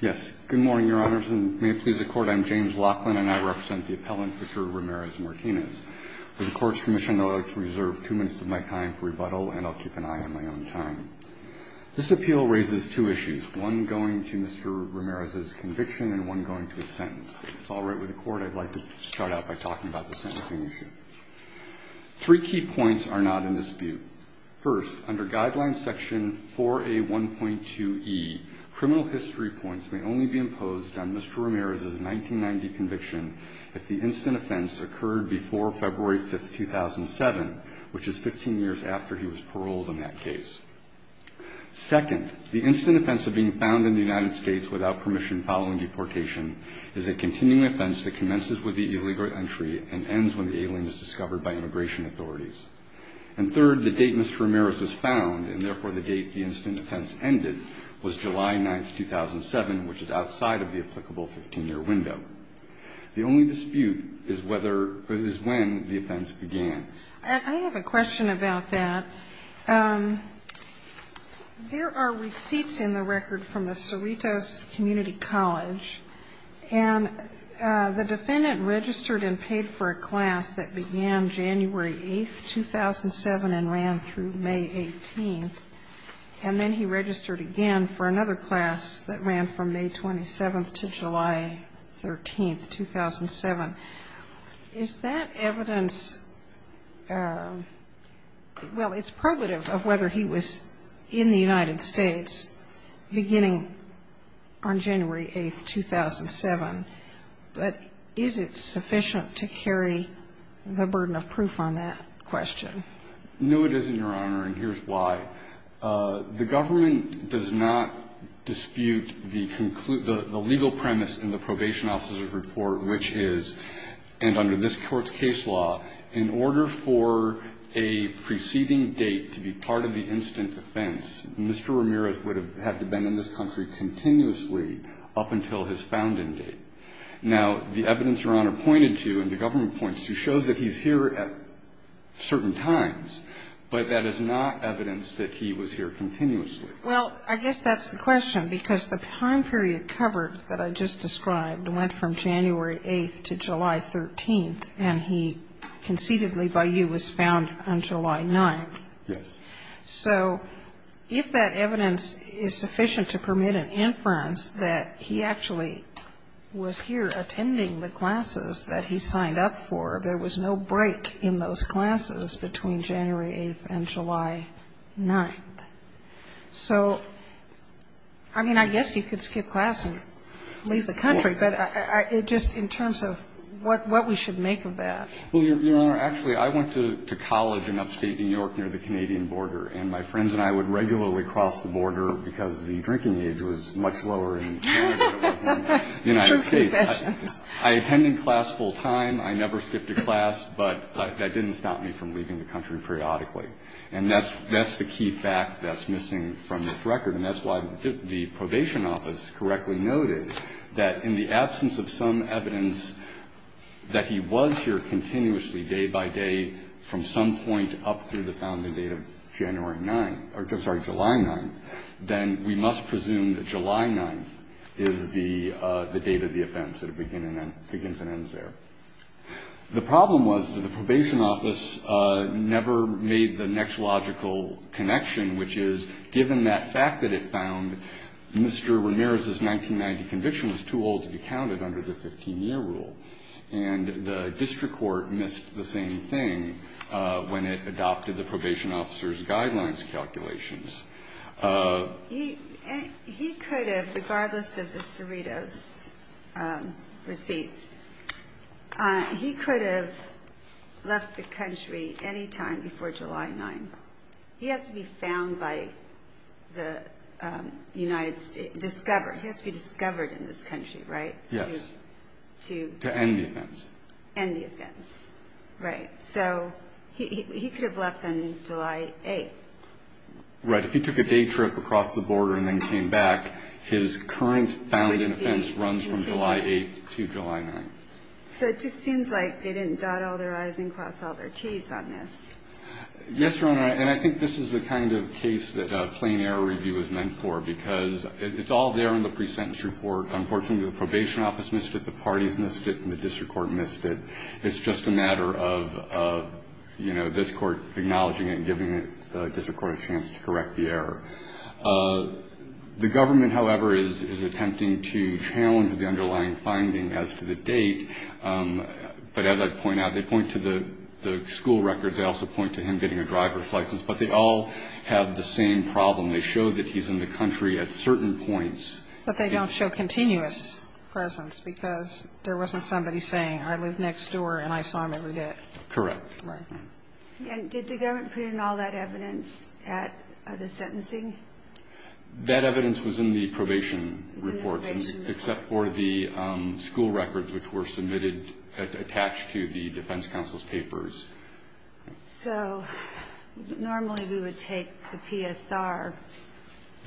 Yes, good morning, Your Honors, and may it please the Court, I'm James Laughlin, and I represent the appellant, Mr. Ramirez-Martinez. For the Court's permission, I'd like to reserve two minutes of my time for rebuttal, and I'll keep an eye on my own time. This appeal raises two issues, one going to Mr. Ramirez's conviction and one going to his sentence. If it's all right with the Court, I'd like to start out by talking about the sentencing issue. Three key points are not in dispute. First, under Guideline Section 4A1.2e, criminal history points may only be imposed on Mr. Ramirez's 1990 conviction if the instant offense occurred before February 5, 2007, which is 15 years after he was paroled in that case. Second, the instant offense of being found in the United States without permission following deportation is a continuing offense that commences with the illegal entry and ends when the alien is discovered by immigration authorities. And third, the date Mr. Ramirez was found, and therefore the date the instant offense ended, was July 9, 2007, which is outside of the applicable 15-year window. The only dispute is whether or is when the offense began. And I have a question about that. There are receipts in the record from the Cerritos Community College, and the defendant registered and paid for a class that began January 8, 2007, and ran through May 18. And then he registered again for another class that ran from May 27 to July 13, 2007. Is that evidence of the united States beginning on January 8, 2007? But is it sufficient to carry the burden of proof on that question? No, it isn't, Your Honor, and here's why. The government does not dispute the legal premise in the probation officer's report, which is, and under this Court's case law, in order for a preceding date to be part of the instant offense, Mr. Ramirez would have had to have been in this country continuously up until his founding date. Now, the evidence Your Honor pointed to and the government points to shows that he's here at certain times, but that is not evidence that he was here continuously. Well, I guess that's the question, because the time period covered that I just described went from January 8 to July 13, and he concededly by you was found on July 9. Yes. So if that evidence is sufficient to permit an inference that he actually was in this country and he was here attending the classes that he signed up for, there was no break in those classes between January 8 and July 9. So I mean, I guess you could skip class and leave the country, but just in terms of what we should make of that. Well, Your Honor, actually, I went to college in upstate New York near the Canadian border, and my friends and I would regularly cross the border because the drinking age was much lower in Canada than in the United States. I attended class full time. I never skipped a class, but that didn't stop me from leaving the country periodically. And that's the key fact that's missing from this record, and that's why the Probation Office correctly noted that in the absence of some evidence that he was here continuously, day by day, from some point up through the founding date of January 9 or, I'm sorry, July 9, then we must presume that July 9 is the date of the offense that begins and ends there. The problem was that the Probation Office never made the next logical connection, which is given that fact that it found Mr. Ramirez's 1990 conviction was too old to be counted under the 15-year rule. And the district court missed the same thing when it adopted the probation officer's guidelines calculations. He could have, regardless of the Cerritos receipts, he could have left the country any time before July 9. He has to be found by the United States, discovered. He has to be discovered in this country, right? Yes. To... To end the offense. End the offense. Right. So, he could have left on July 8. Right. If he took a day trip across the border and then came back, his current found in offense runs from July 8 to July 9. So, it just seems like they didn't dot all their I's and cross all their T's on this. Yes, Your Honor. And I think this is the kind of case that a plain error review is meant for because it's all there in the pre-sentence report. Unfortunately, the Probation Office missed it, the parties missed it, and the district court missed it. It's just a matter of, you know, this Court acknowledging it and giving the district court a chance to correct the error. The government, however, is attempting to challenge the underlying finding as to the date. But as I point out, they point to the school records. They also point to him getting a driver's license. But they all have the same problem. They show that he's in the country at certain points. But they don't show continuous presence because there wasn't somebody saying, I live next door and I saw him every day. Correct. Right. And did the government put in all that evidence at the sentencing? That evidence was in the probation report. It was in the probation report. Except for the school records which were submitted, attached to the defense counsel's papers. So normally we would take the PSR.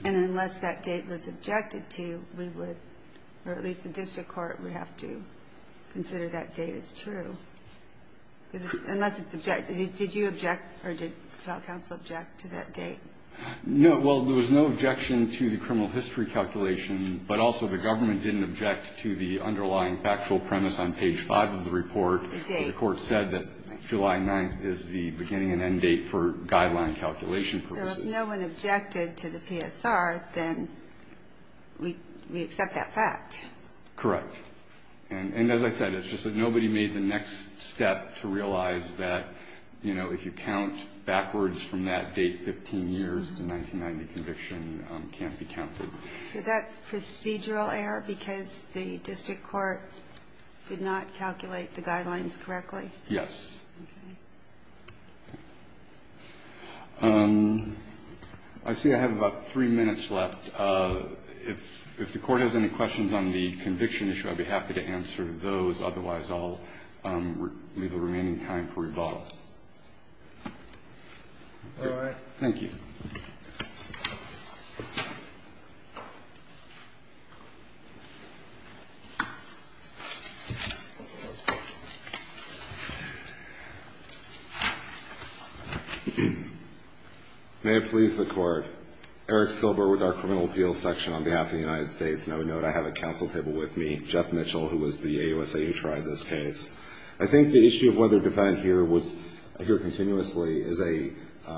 And unless that date was objected to, we would, or at least the district court would have to consider that date as true. Unless it's objected. Did you object or did counsel object to that date? No. Well, there was no objection to the criminal history calculation. But also the government didn't object to the underlying factual premise on page 5 of the report. The date. The court said that July 9th is the beginning and end date for guideline calculation purposes. So if no one objected to the PSR, then we accept that fact. Correct. And as I said, it's just that nobody made the next step to realize that, you know, if you count backwards from that date 15 years, the 1990 conviction can't be counted. So that's procedural error because the district court did not calculate the guidelines correctly? Yes. Okay. I see I have about three minutes left. If the court has any questions on the conviction issue, I'd be happy to answer those. Otherwise, I'll leave the remaining time for rebuttal. All right. Thank you. May it please the Court. Eric Silber with our Criminal Appeals Section on behalf of the United States. And I would note I have a counsel table with me, Jeff Mitchell, who was the AUSA who tried this case. I think the issue of whether a defendant here was here continuously is a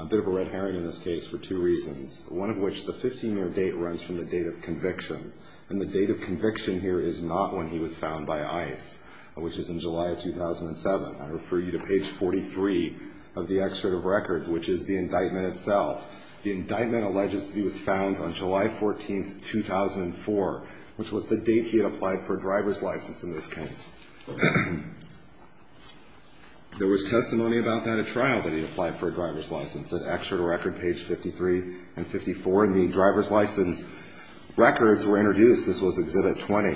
bit of a red herring in this case for two reasons. One of which, the 15-year date runs from the date of conviction. And the date of conviction here is not when he was found by ICE, which is in July of 2007. I refer you to page 43 of the excerpt of records, which is the indictment itself. The indictment alleges that he was found on July 14th, 2004, which was the date he had applied for a driver's license in this case. There was testimony about that at trial, that he had applied for a driver's license. An excerpt of record, page 53 and 54. And the driver's license records were introduced. This was Exhibit 20.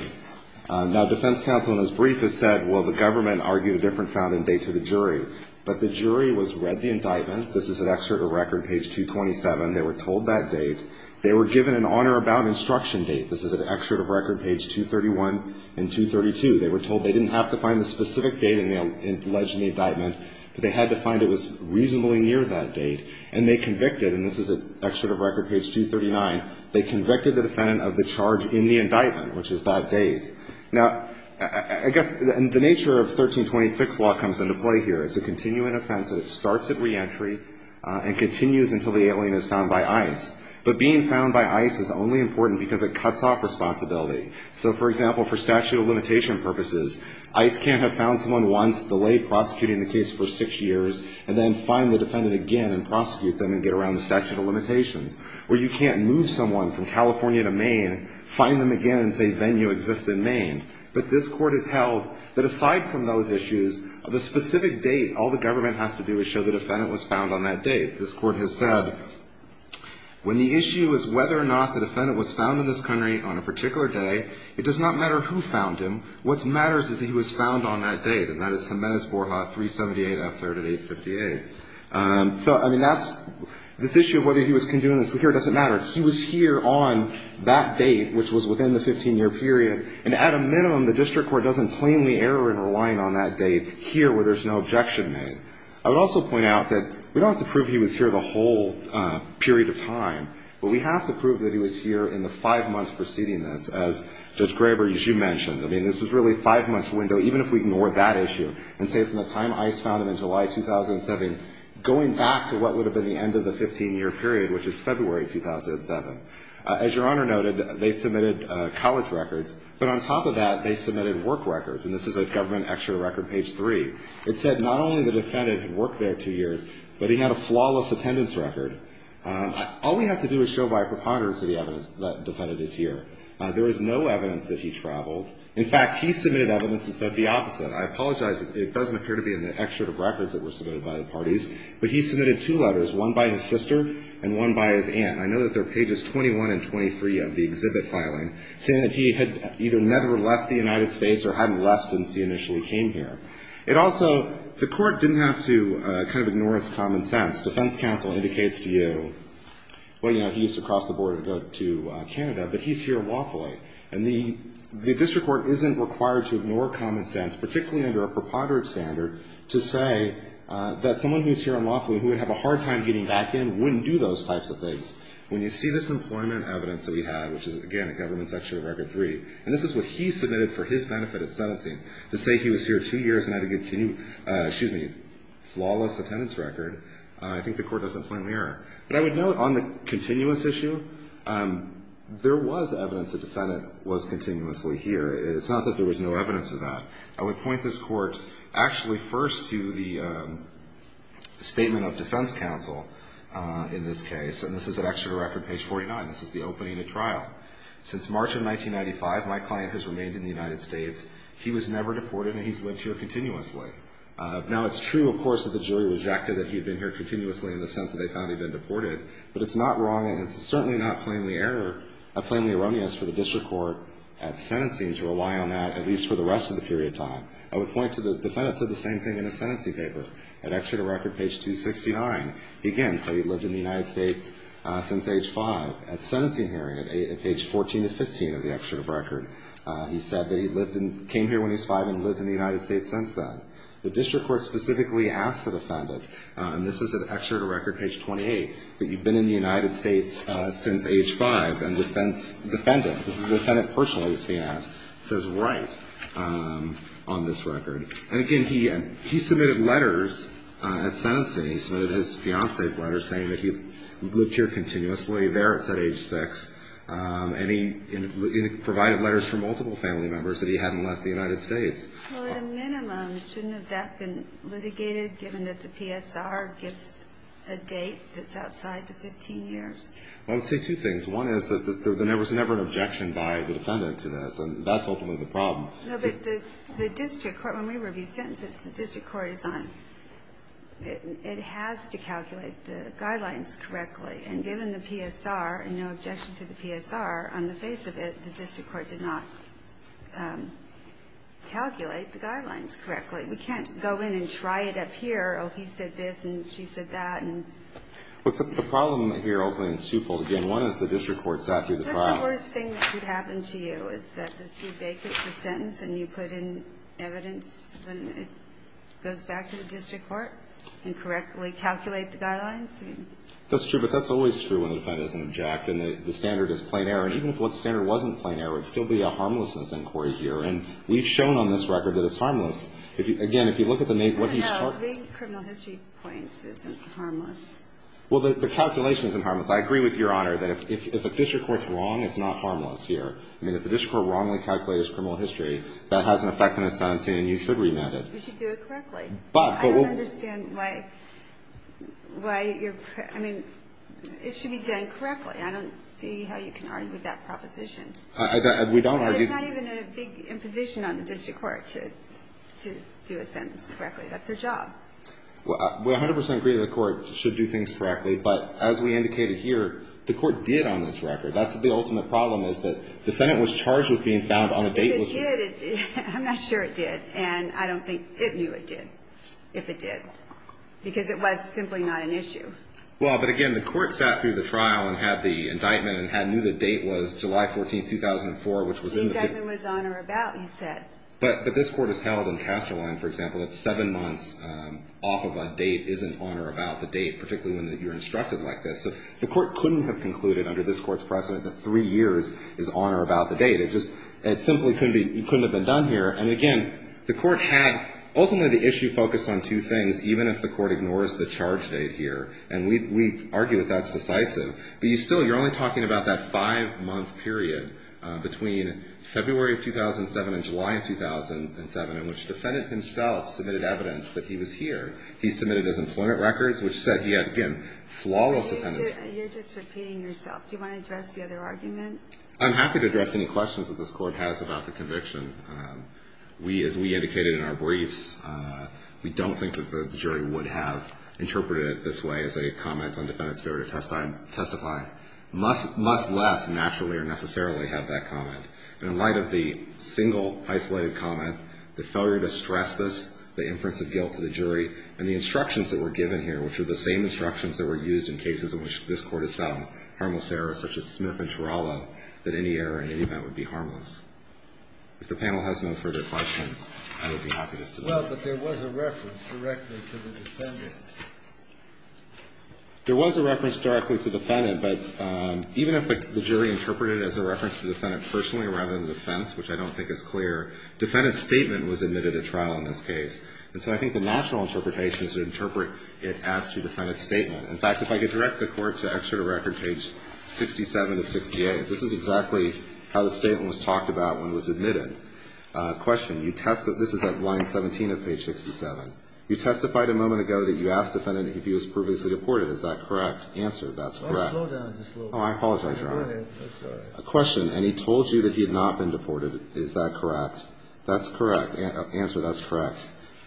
Now, defense counsel in his brief has said, well, the government argued a different found and date to the jury. But the jury was read the indictment. This is an excerpt of record, page 227. They were told that date. They were given an honor about instruction date. This is an excerpt of record, page 231 and 232. They were told they didn't have to find the specific date alleged in the indictment, but they had to find it was reasonably near that date. And they convicted, and this is an excerpt of record, page 239. They convicted the defendant of the charge in the indictment, which is that date. Now, I guess the nature of 1326 law comes into play here. It's a continuing offense, and it starts at reentry and continues until the alien is found by ICE. But being found by ICE is only important because it cuts off responsibility. So, for example, for statute of limitation purposes, ICE can't have found someone once, delayed prosecuting the case for six years, and then find the defendant again and prosecute them and get around the statute of limitations. Or you can't move someone from California to Maine, find them again and say venue exists in Maine. But this Court has held that aside from those issues, the specific date, all the government has to do is show the defendant was found on that date. This Court has said, when the issue is whether or not the defendant was found in this country on a particular day, it does not matter who found him. What matters is that he was found on that date. And that is Jimenez-Borja, 378 F. 3rd and 858. So, I mean, that's this issue of whether he was condoned here doesn't matter. He was here on that date, which was within the 15-year period. And at a minimum, the district court doesn't plainly err in relying on that date here where there's no objection made. I would also point out that we don't have to prove he was here the whole period of time. But we have to prove that he was here in the five months preceding this, as Judge Graber, as you mentioned. I mean, this was really a five-month window, even if we ignore that issue. And say from the time ICE found him in July 2007, going back to what would have been the end of the 15-year period, which is February 2007. As Your Honor noted, they submitted college records. But on top of that, they submitted work records. And this is at Government Extra Record, page 3. It said not only the defendant had worked there two years, but he had a flawless attendance record. All we have to do is show by a preponderance of the evidence that the defendant is here. There is no evidence that he traveled. In fact, he submitted evidence that said the opposite. I apologize. It doesn't appear to be in the extra records that were submitted by the parties. But he submitted two letters, one by his sister and one by his aunt. I know that they're pages 21 and 23 of the exhibit filing, saying that he had either never left the United States or hadn't left since he initially came here. It also, the court didn't have to kind of ignore its common sense. Defense counsel indicates to you, well, you know, he used to cross the border to go to Canada, but he's here unlawfully. And the district court isn't required to ignore common sense, particularly under a preponderance standard, to say that someone who's here unlawfully, who would have a hard time getting back in, wouldn't do those types of things. When you see this employment evidence that we have, which is, again, at Government Extra Record 3, and this is what he submitted for his benefit at sentencing, to say he was here two years and had a continuous, excuse me, flawless attendance record, I think the court doesn't point the mirror. But I would note on the continuous issue, there was evidence the defendant was continuously here. It's not that there was no evidence of that. I would point this court actually first to the statement of defense counsel in this case. And this is at Extra Record page 49. This is the opening of trial. Since March of 1995, my client has remained in the United States. He was never deported, and he's lived here continuously. Now, it's true, of course, that the jury rejected that he had been here continuously in the sense that they found he'd been deported. But it's not wrong, and it's certainly not plainly error, plainly erroneous for the district court at sentencing to rely on that, at least for the rest of the period of time. I would point to the defendant said the same thing in his sentencing paper at Extra Record page 269. Again, said he'd lived in the United States since age 5 at sentencing hearing at page 14 to 15 of the Extra Record. He said that he lived in ñ came here when he was 5 and lived in the United States since then. The district court specifically asked the defendant, and this is at Extra Record page 28, that you've been in the United States since age 5. And the defendant, this is the defendant personally that's being asked, says right on this record. And, again, he submitted letters at sentencing. He submitted his fiancée's letters saying that he lived here continuously there at said age 6. And he provided letters from multiple family members that he hadn't left the United States. Well, at a minimum, shouldn't have that been litigated given that the PSR gives a date that's outside the 15 years? Well, I would say two things. One is that there was never an objection by the defendant to this, and that's ultimately the problem. No, but the district court, when we review sentences, the district court is on. It has to calculate the guidelines correctly. And given the PSR and no objection to the PSR, on the face of it, the district court did not calculate the guidelines correctly. We can't go in and try it up here. Oh, he said this, and she said that. Well, the problem here, ultimately, is twofold. Again, one is the district court sat through the trial. That's the worst thing that could happen to you, is that you take the sentence and you put in evidence when it goes back to the district court and correctly calculate the guidelines. That's true, but that's always true when the defendant doesn't object and the standard is plain error. And even if the standard wasn't plain error, it would still be a harmlessness inquiry here. And we've shown on this record that it's harmless. Again, if you look at the name, what he's talking about. No, being criminal history points, it's harmless. Well, the calculation isn't harmless. I agree with Your Honor that if the district court's wrong, it's not harmless here. I mean, if the district court wrongly calculates criminal history, that has an effect on the sentencing, and you should remand it. You should do it correctly. I don't understand why you're, I mean, it should be done correctly. I don't see how you can argue that proposition. We don't argue. It's not even a big imposition on the district court to do a sentence correctly. That's their job. We 100% agree that the court should do things correctly, but as we indicated here, the court did on this record. That's the ultimate problem is that the defendant was charged with being found on a date. If it did, I'm not sure it did, and I don't think it knew it did, if it did, because it was simply not an issue. Well, but again, the court sat through the trial and had the indictment and knew the date was July 14, 2004, which was in the... The indictment was on or about, you said. But this court has held in Casterline, for example, that seven months off of a date isn't on or about the date, particularly when you're instructed like this. So the court couldn't have concluded under this court's precedent that three years is on or about the date. It just simply couldn't have been done here. And again, the court had... Ultimately, the issue focused on two things, even if the court ignores the charge date here, and we argue that that's decisive. But you still... You're only talking about that five-month period between February of 2007 and July of 2007 in which the defendant himself submitted evidence that he was here. He submitted his employment records, which said he had, again, flawless... You're just repeating yourself. Do you want to address the other argument? I'm happy to address any questions that this court has about the conviction. As we indicated in our briefs, we don't think that the jury would have interpreted it this way as a comment on defendant's failure to testify, much less naturally or necessarily have that comment. And in light of the single, isolated comment, the failure to stress this, the inference of guilt to the jury, and the instructions that were given here, which are the same instructions that were used in cases in which this court has found harmless errors such as Smith and Tarallo, that any error in any of that would be harmless. If the panel has no further questions, I would be happiest to... Well, but there was a reference directly to the defendant. There was a reference directly to the defendant. But even if the jury interpreted it as a reference to the defendant personally rather than the defense, which I don't think is clear, defendant's statement was admitted at trial in this case. And so I think the natural interpretation is to interpret it as to defendant's statement. In fact, if I could direct the Court to Excerpt of Record, page 67 to 68, this is exactly how the statement was talked about when it was admitted. Question. You testified... This is at line 17 of page 67. You testified a moment ago that you asked the defendant if he was previously deported. Is that correct? Answer. That's correct. Oh, slow down. Oh, I apologize, Your Honor. I'm sorry. Question. And he told you that he had not been deported. Is that correct? That's correct. Answer. That's correct.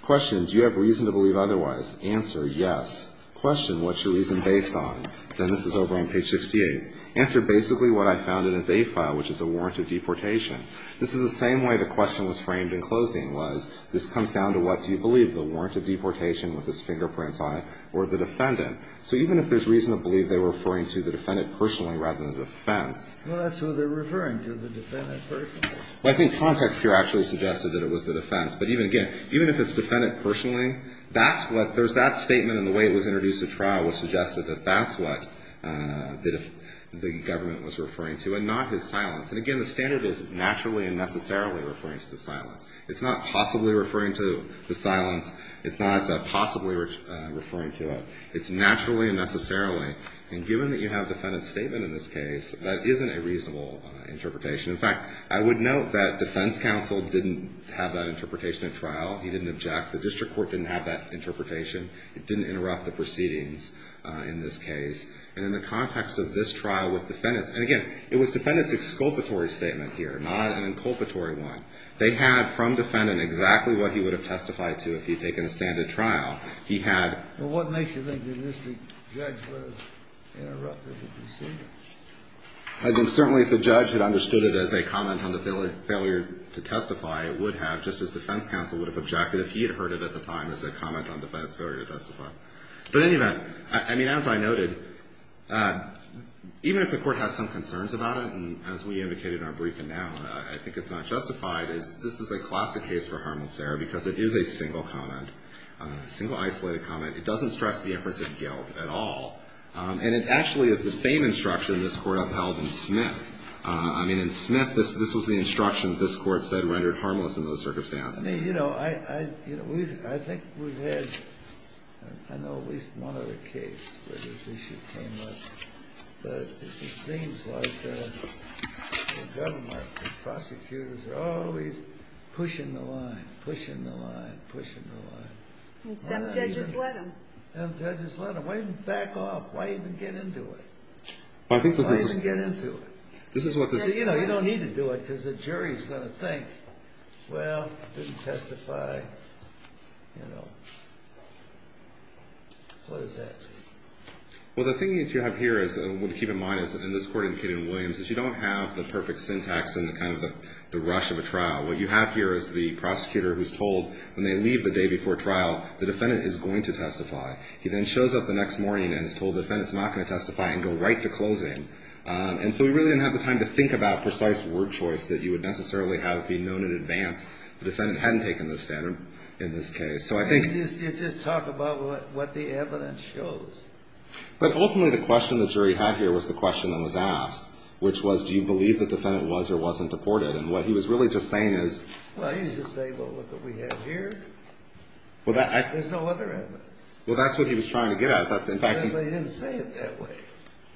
Question. Do you have reason to believe otherwise? Answer. Yes. Question. What's your reason based on? Then this is over on page 68. Answer. Basically what I found in his A file, which is a warrant of deportation. This is the same way the question was framed in closing, was this comes down to what do you believe, the warrant of deportation with his fingerprints on it or the defendant. So even if there's reason to believe they're referring to the defendant personally rather than the defense. Well, that's what they're referring to, the defendant personally. Well, I think context here actually suggested that it was the defense. But even again, even if it's defendant personally, that's what there's that statement in the way it was introduced at trial which suggested that that's what the government was referring to and not his silence. And again, the standard is naturally and necessarily referring to the silence. It's not possibly referring to the silence. It's not possibly referring to it. It's naturally and necessarily. And given that you have a defendant's statement in this case, that isn't a reasonable interpretation. In fact, I would note that defense counsel didn't have that interpretation at trial. He didn't object. The district court didn't have that interpretation. It didn't interrupt the proceedings in this case. And in the context of this trial with defendants, and again, it was defendants basic sculptory statement here, not an inculpatory one. They had from defendant exactly what he would have testified to if he had taken a standard trial. He had. Well, what makes you think the district judge would have interrupted the proceedings? I think certainly if the judge had understood it as a comment on the failure to testify, it would have, just as defense counsel would have objected if he had heard it at the time as a comment on defense failure to testify. But in any event, I mean, as I noted, even if the court has some concerns about that comment, and as we indicated in our briefing now, I think it's not justified, is this is a classic case for harmless error because it is a single comment, a single isolated comment. It doesn't stress the efforts at guilt at all. And it actually is the same instruction this Court upheld in Smith. I mean, in Smith, this was the instruction that this Court said rendered harmless in those circumstances. You know, I think we've had, I know at least one other case where this issue came up, but it seems like the government, the prosecutors are always pushing the line, pushing the line, pushing the line. And some judges let them. Some judges let them. Why even back off? Why even get into it? Why even get into it? You know, you don't need to do it because the jury is going to think, well, didn't testify, you know. What does that mean? Well, the thing that you have here is, I want you to keep in mind, in this Court indicated in Williams, is you don't have the perfect syntax and kind of the rush of a trial. What you have here is the prosecutor who is told when they leave the day before trial, the defendant is going to testify. He then shows up the next morning and is told the defendant is not going to testify and go right to closing. And so we really didn't have the time to think about precise word choice that you would necessarily have if he had known in advance the defendant hadn't taken the stand in this case. You just talk about what the evidence shows. But ultimately, the question the jury had here was the question that was asked, which was, do you believe the defendant was or wasn't deported? And what he was really just saying is... Well, he was just saying, well, look what we have here. There's no other evidence. Well, that's what he was trying to get at. But he didn't say it that way.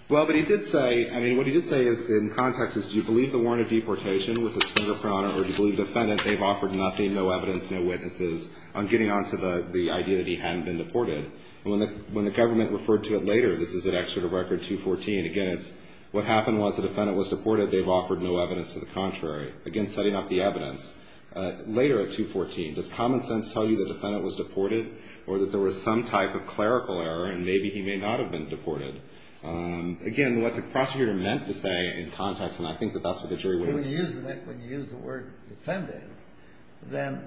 Well, but he did say, I mean, what he did say in context is, do you believe the warrant of deportation with its fingerprint on it, or do you believe the defendant, they've offered nothing, no evidence, no witnesses on getting on to the idea that he hadn't been deported? And when the government referred to it later, this is at Excerpt of Record 214, again, it's what happened was the defendant was deported. They've offered no evidence to the contrary. Again, setting up the evidence. Later at 214, does common sense tell you the defendant was deported or that there was some type of clerical error and maybe he may not have been deported? Again, what the prosecutor meant to say in context, and I think that that's what the jury would have... When you use the word defendant, then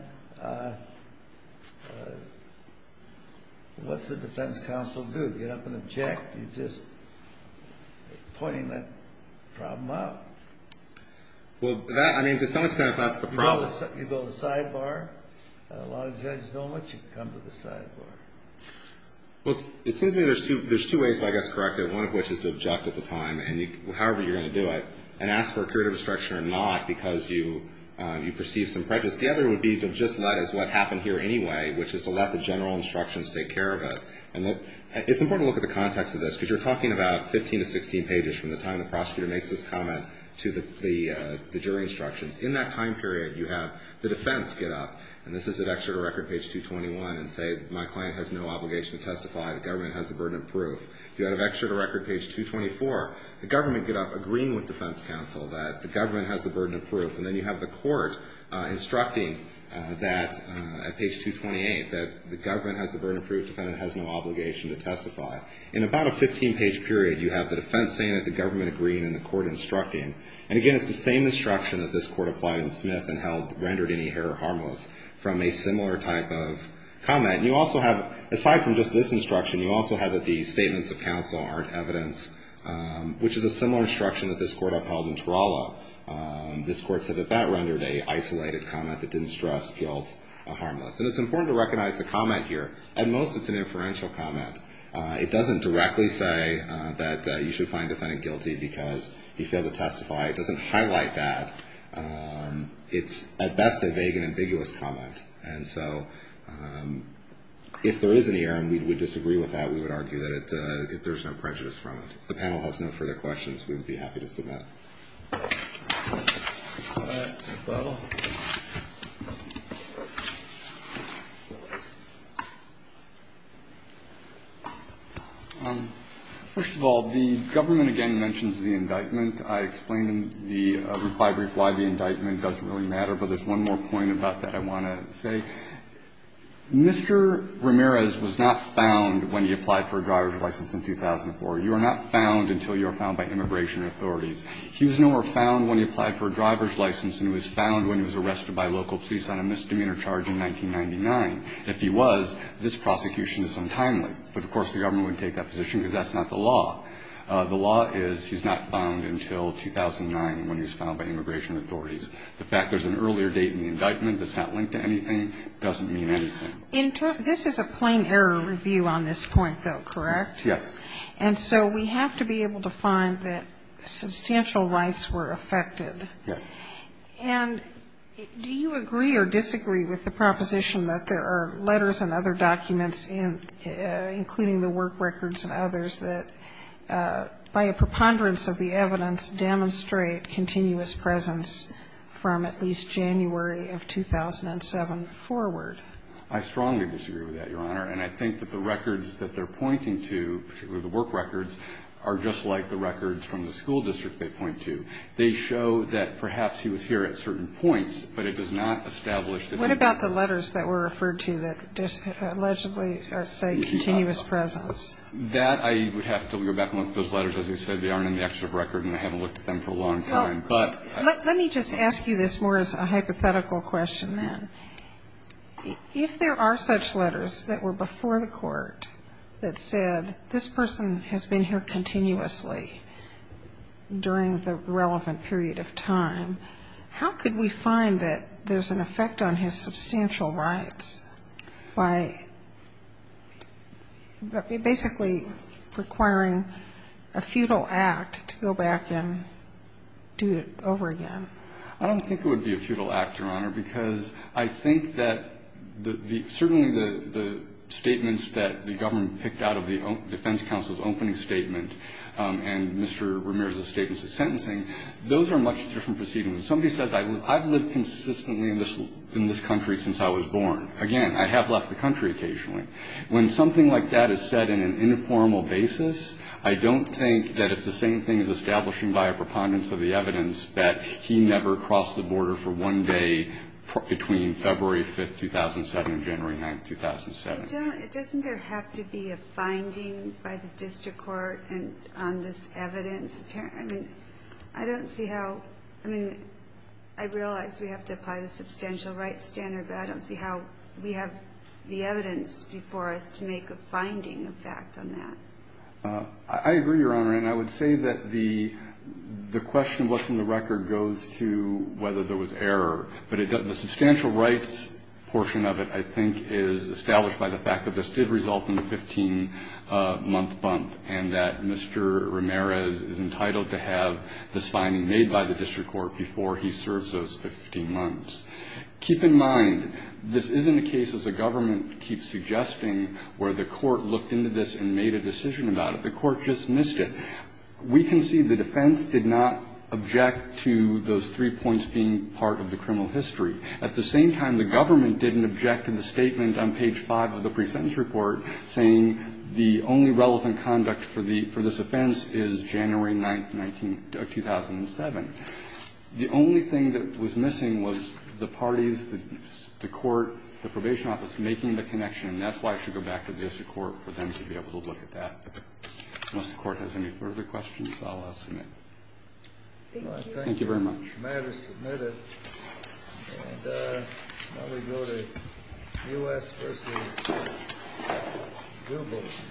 what's the defense counsel do? Get up and object? You're just pointing that problem out? Well, that, I mean, to some extent, that's the problem. You go to the sidebar? A lot of judges don't let you come to the sidebar. Well, it seems to me there's two ways I guess to correct it, one of which is to do it and ask for a period of instruction or not because you perceive some prejudice. The other would be to just let as what happened here anyway, which is to let the general instructions take care of it. And it's important to look at the context of this because you're talking about 15 to 16 pages from the time the prosecutor makes this comment to the jury instructions. In that time period, you have the defense get up, and this is at Excerpt of Record page 221, and say my client has no obligation to testify. The government has the burden of proof. You have Excerpt of Record page 224. The government get up agreeing with defense counsel that the government has the burden of proof. And then you have the court instructing that at page 228 that the government has the burden of proof, defendant has no obligation to testify. In about a 15-page period, you have the defense saying that the government agreed and the court instructing. And, again, it's the same instruction that this court applied in Smith and rendered any error harmless from a similar type of comment. And you also have, aside from just this instruction, you also have that the statements of counsel aren't evidence, which is a similar instruction that this court upheld in Taralla. This court said that that rendered a isolated comment that didn't stress guilt harmless. And it's important to recognize the comment here. At most, it's an inferential comment. It doesn't directly say that you should find defendant guilty because he failed to testify. It doesn't highlight that. It's, at best, a vague and ambiguous comment. And so if there is an error and we disagree with that, we would argue that there's no prejudice from it. If the panel has no further questions, we would be happy to submit. All right. Bill. First of all, the government, again, mentions the indictment. I explained in the reply brief why the indictment doesn't really matter. But there's one more point about that I want to say. Mr. Ramirez was not found when he applied for a driver's license in 2004. You are not found until you are found by immigration authorities. He was no more found when he applied for a driver's license and was found when he was arrested by local police on a misdemeanor charge in 1999. If he was, this prosecution is untimely. But, of course, the government wouldn't take that position because that's not the law. The law is he's not found until 2009 when he was found by immigration authorities. The fact there's an earlier date in the indictment that's not linked to anything doesn't mean anything. This is a plain error review on this point, though, correct? Yes. And so we have to be able to find that substantial rights were affected. Yes. And do you agree or disagree with the proposition that there are letters and other documents, including the work records and others, that by a preponderance of the evidence demonstrate continuous presence from at least January of 2007 forward? I strongly disagree with that, Your Honor. And I think that the records that they're pointing to, particularly the work records, are just like the records from the school district they point to. They show that perhaps he was here at certain points, but it does not establish that he was here at certain points. What about the letters that were referred to that allegedly say continuous presence? That I would have to go back and look at those letters. As I said, they aren't in the extra record, and I haven't looked at them for a long time. But let me just ask you this more as a hypothetical question then. If there are such letters that were before the court that said this person has been here continuously during the relevant period of time, how could we find that there's an effect on his substantial rights by basically requiring a futile act to go back and do it over again? I don't think it would be a futile act, Your Honor, because I think that the – certainly the statements that the government picked out of the defense counsel's opening statement and Mr. Ramirez's statements of sentencing, those are much different proceedings. Somebody says I've lived consistently in this country since I was born. Again, I have left the country occasionally. When something like that is said in an informal basis, I don't think that it's the same thing as establishing by a preponderance of the evidence that he never crossed the border for one day between February 5th, 2007 and January 9th, 2007. It doesn't there have to be a finding by the district court on this evidence? I mean, I don't see how – I mean, I realize we have to apply the substantial rights standard, but I don't see how we have the evidence before us to make a finding effect on that. I agree, Your Honor, and I would say that the question of what's in the record goes to whether there was error. But the substantial rights portion of it, I think, is established by the fact that this did result in a 15-month bump and that Mr. Ramirez is entitled to have this finding made by the district court before he serves those 15 months. Keep in mind, this isn't a case, as the government keeps suggesting, where the court looked into this and made a decision about it. The court just missed it. We can see the defense did not object to those three points being part of the criminal history. At the same time, the government didn't object to the statement on page 5 of the presentence report saying the only relevant conduct for the – for this offense is January 9th, 2007. The only thing that was missing was the parties, the court, the probation office making the connection, and that's why I should go back to the district court for them to be able to look at that. Unless the court has any further questions, I'll submit. Thank you. Thank you very much. The matter is submitted. And now we go to U.S. v. Dubo.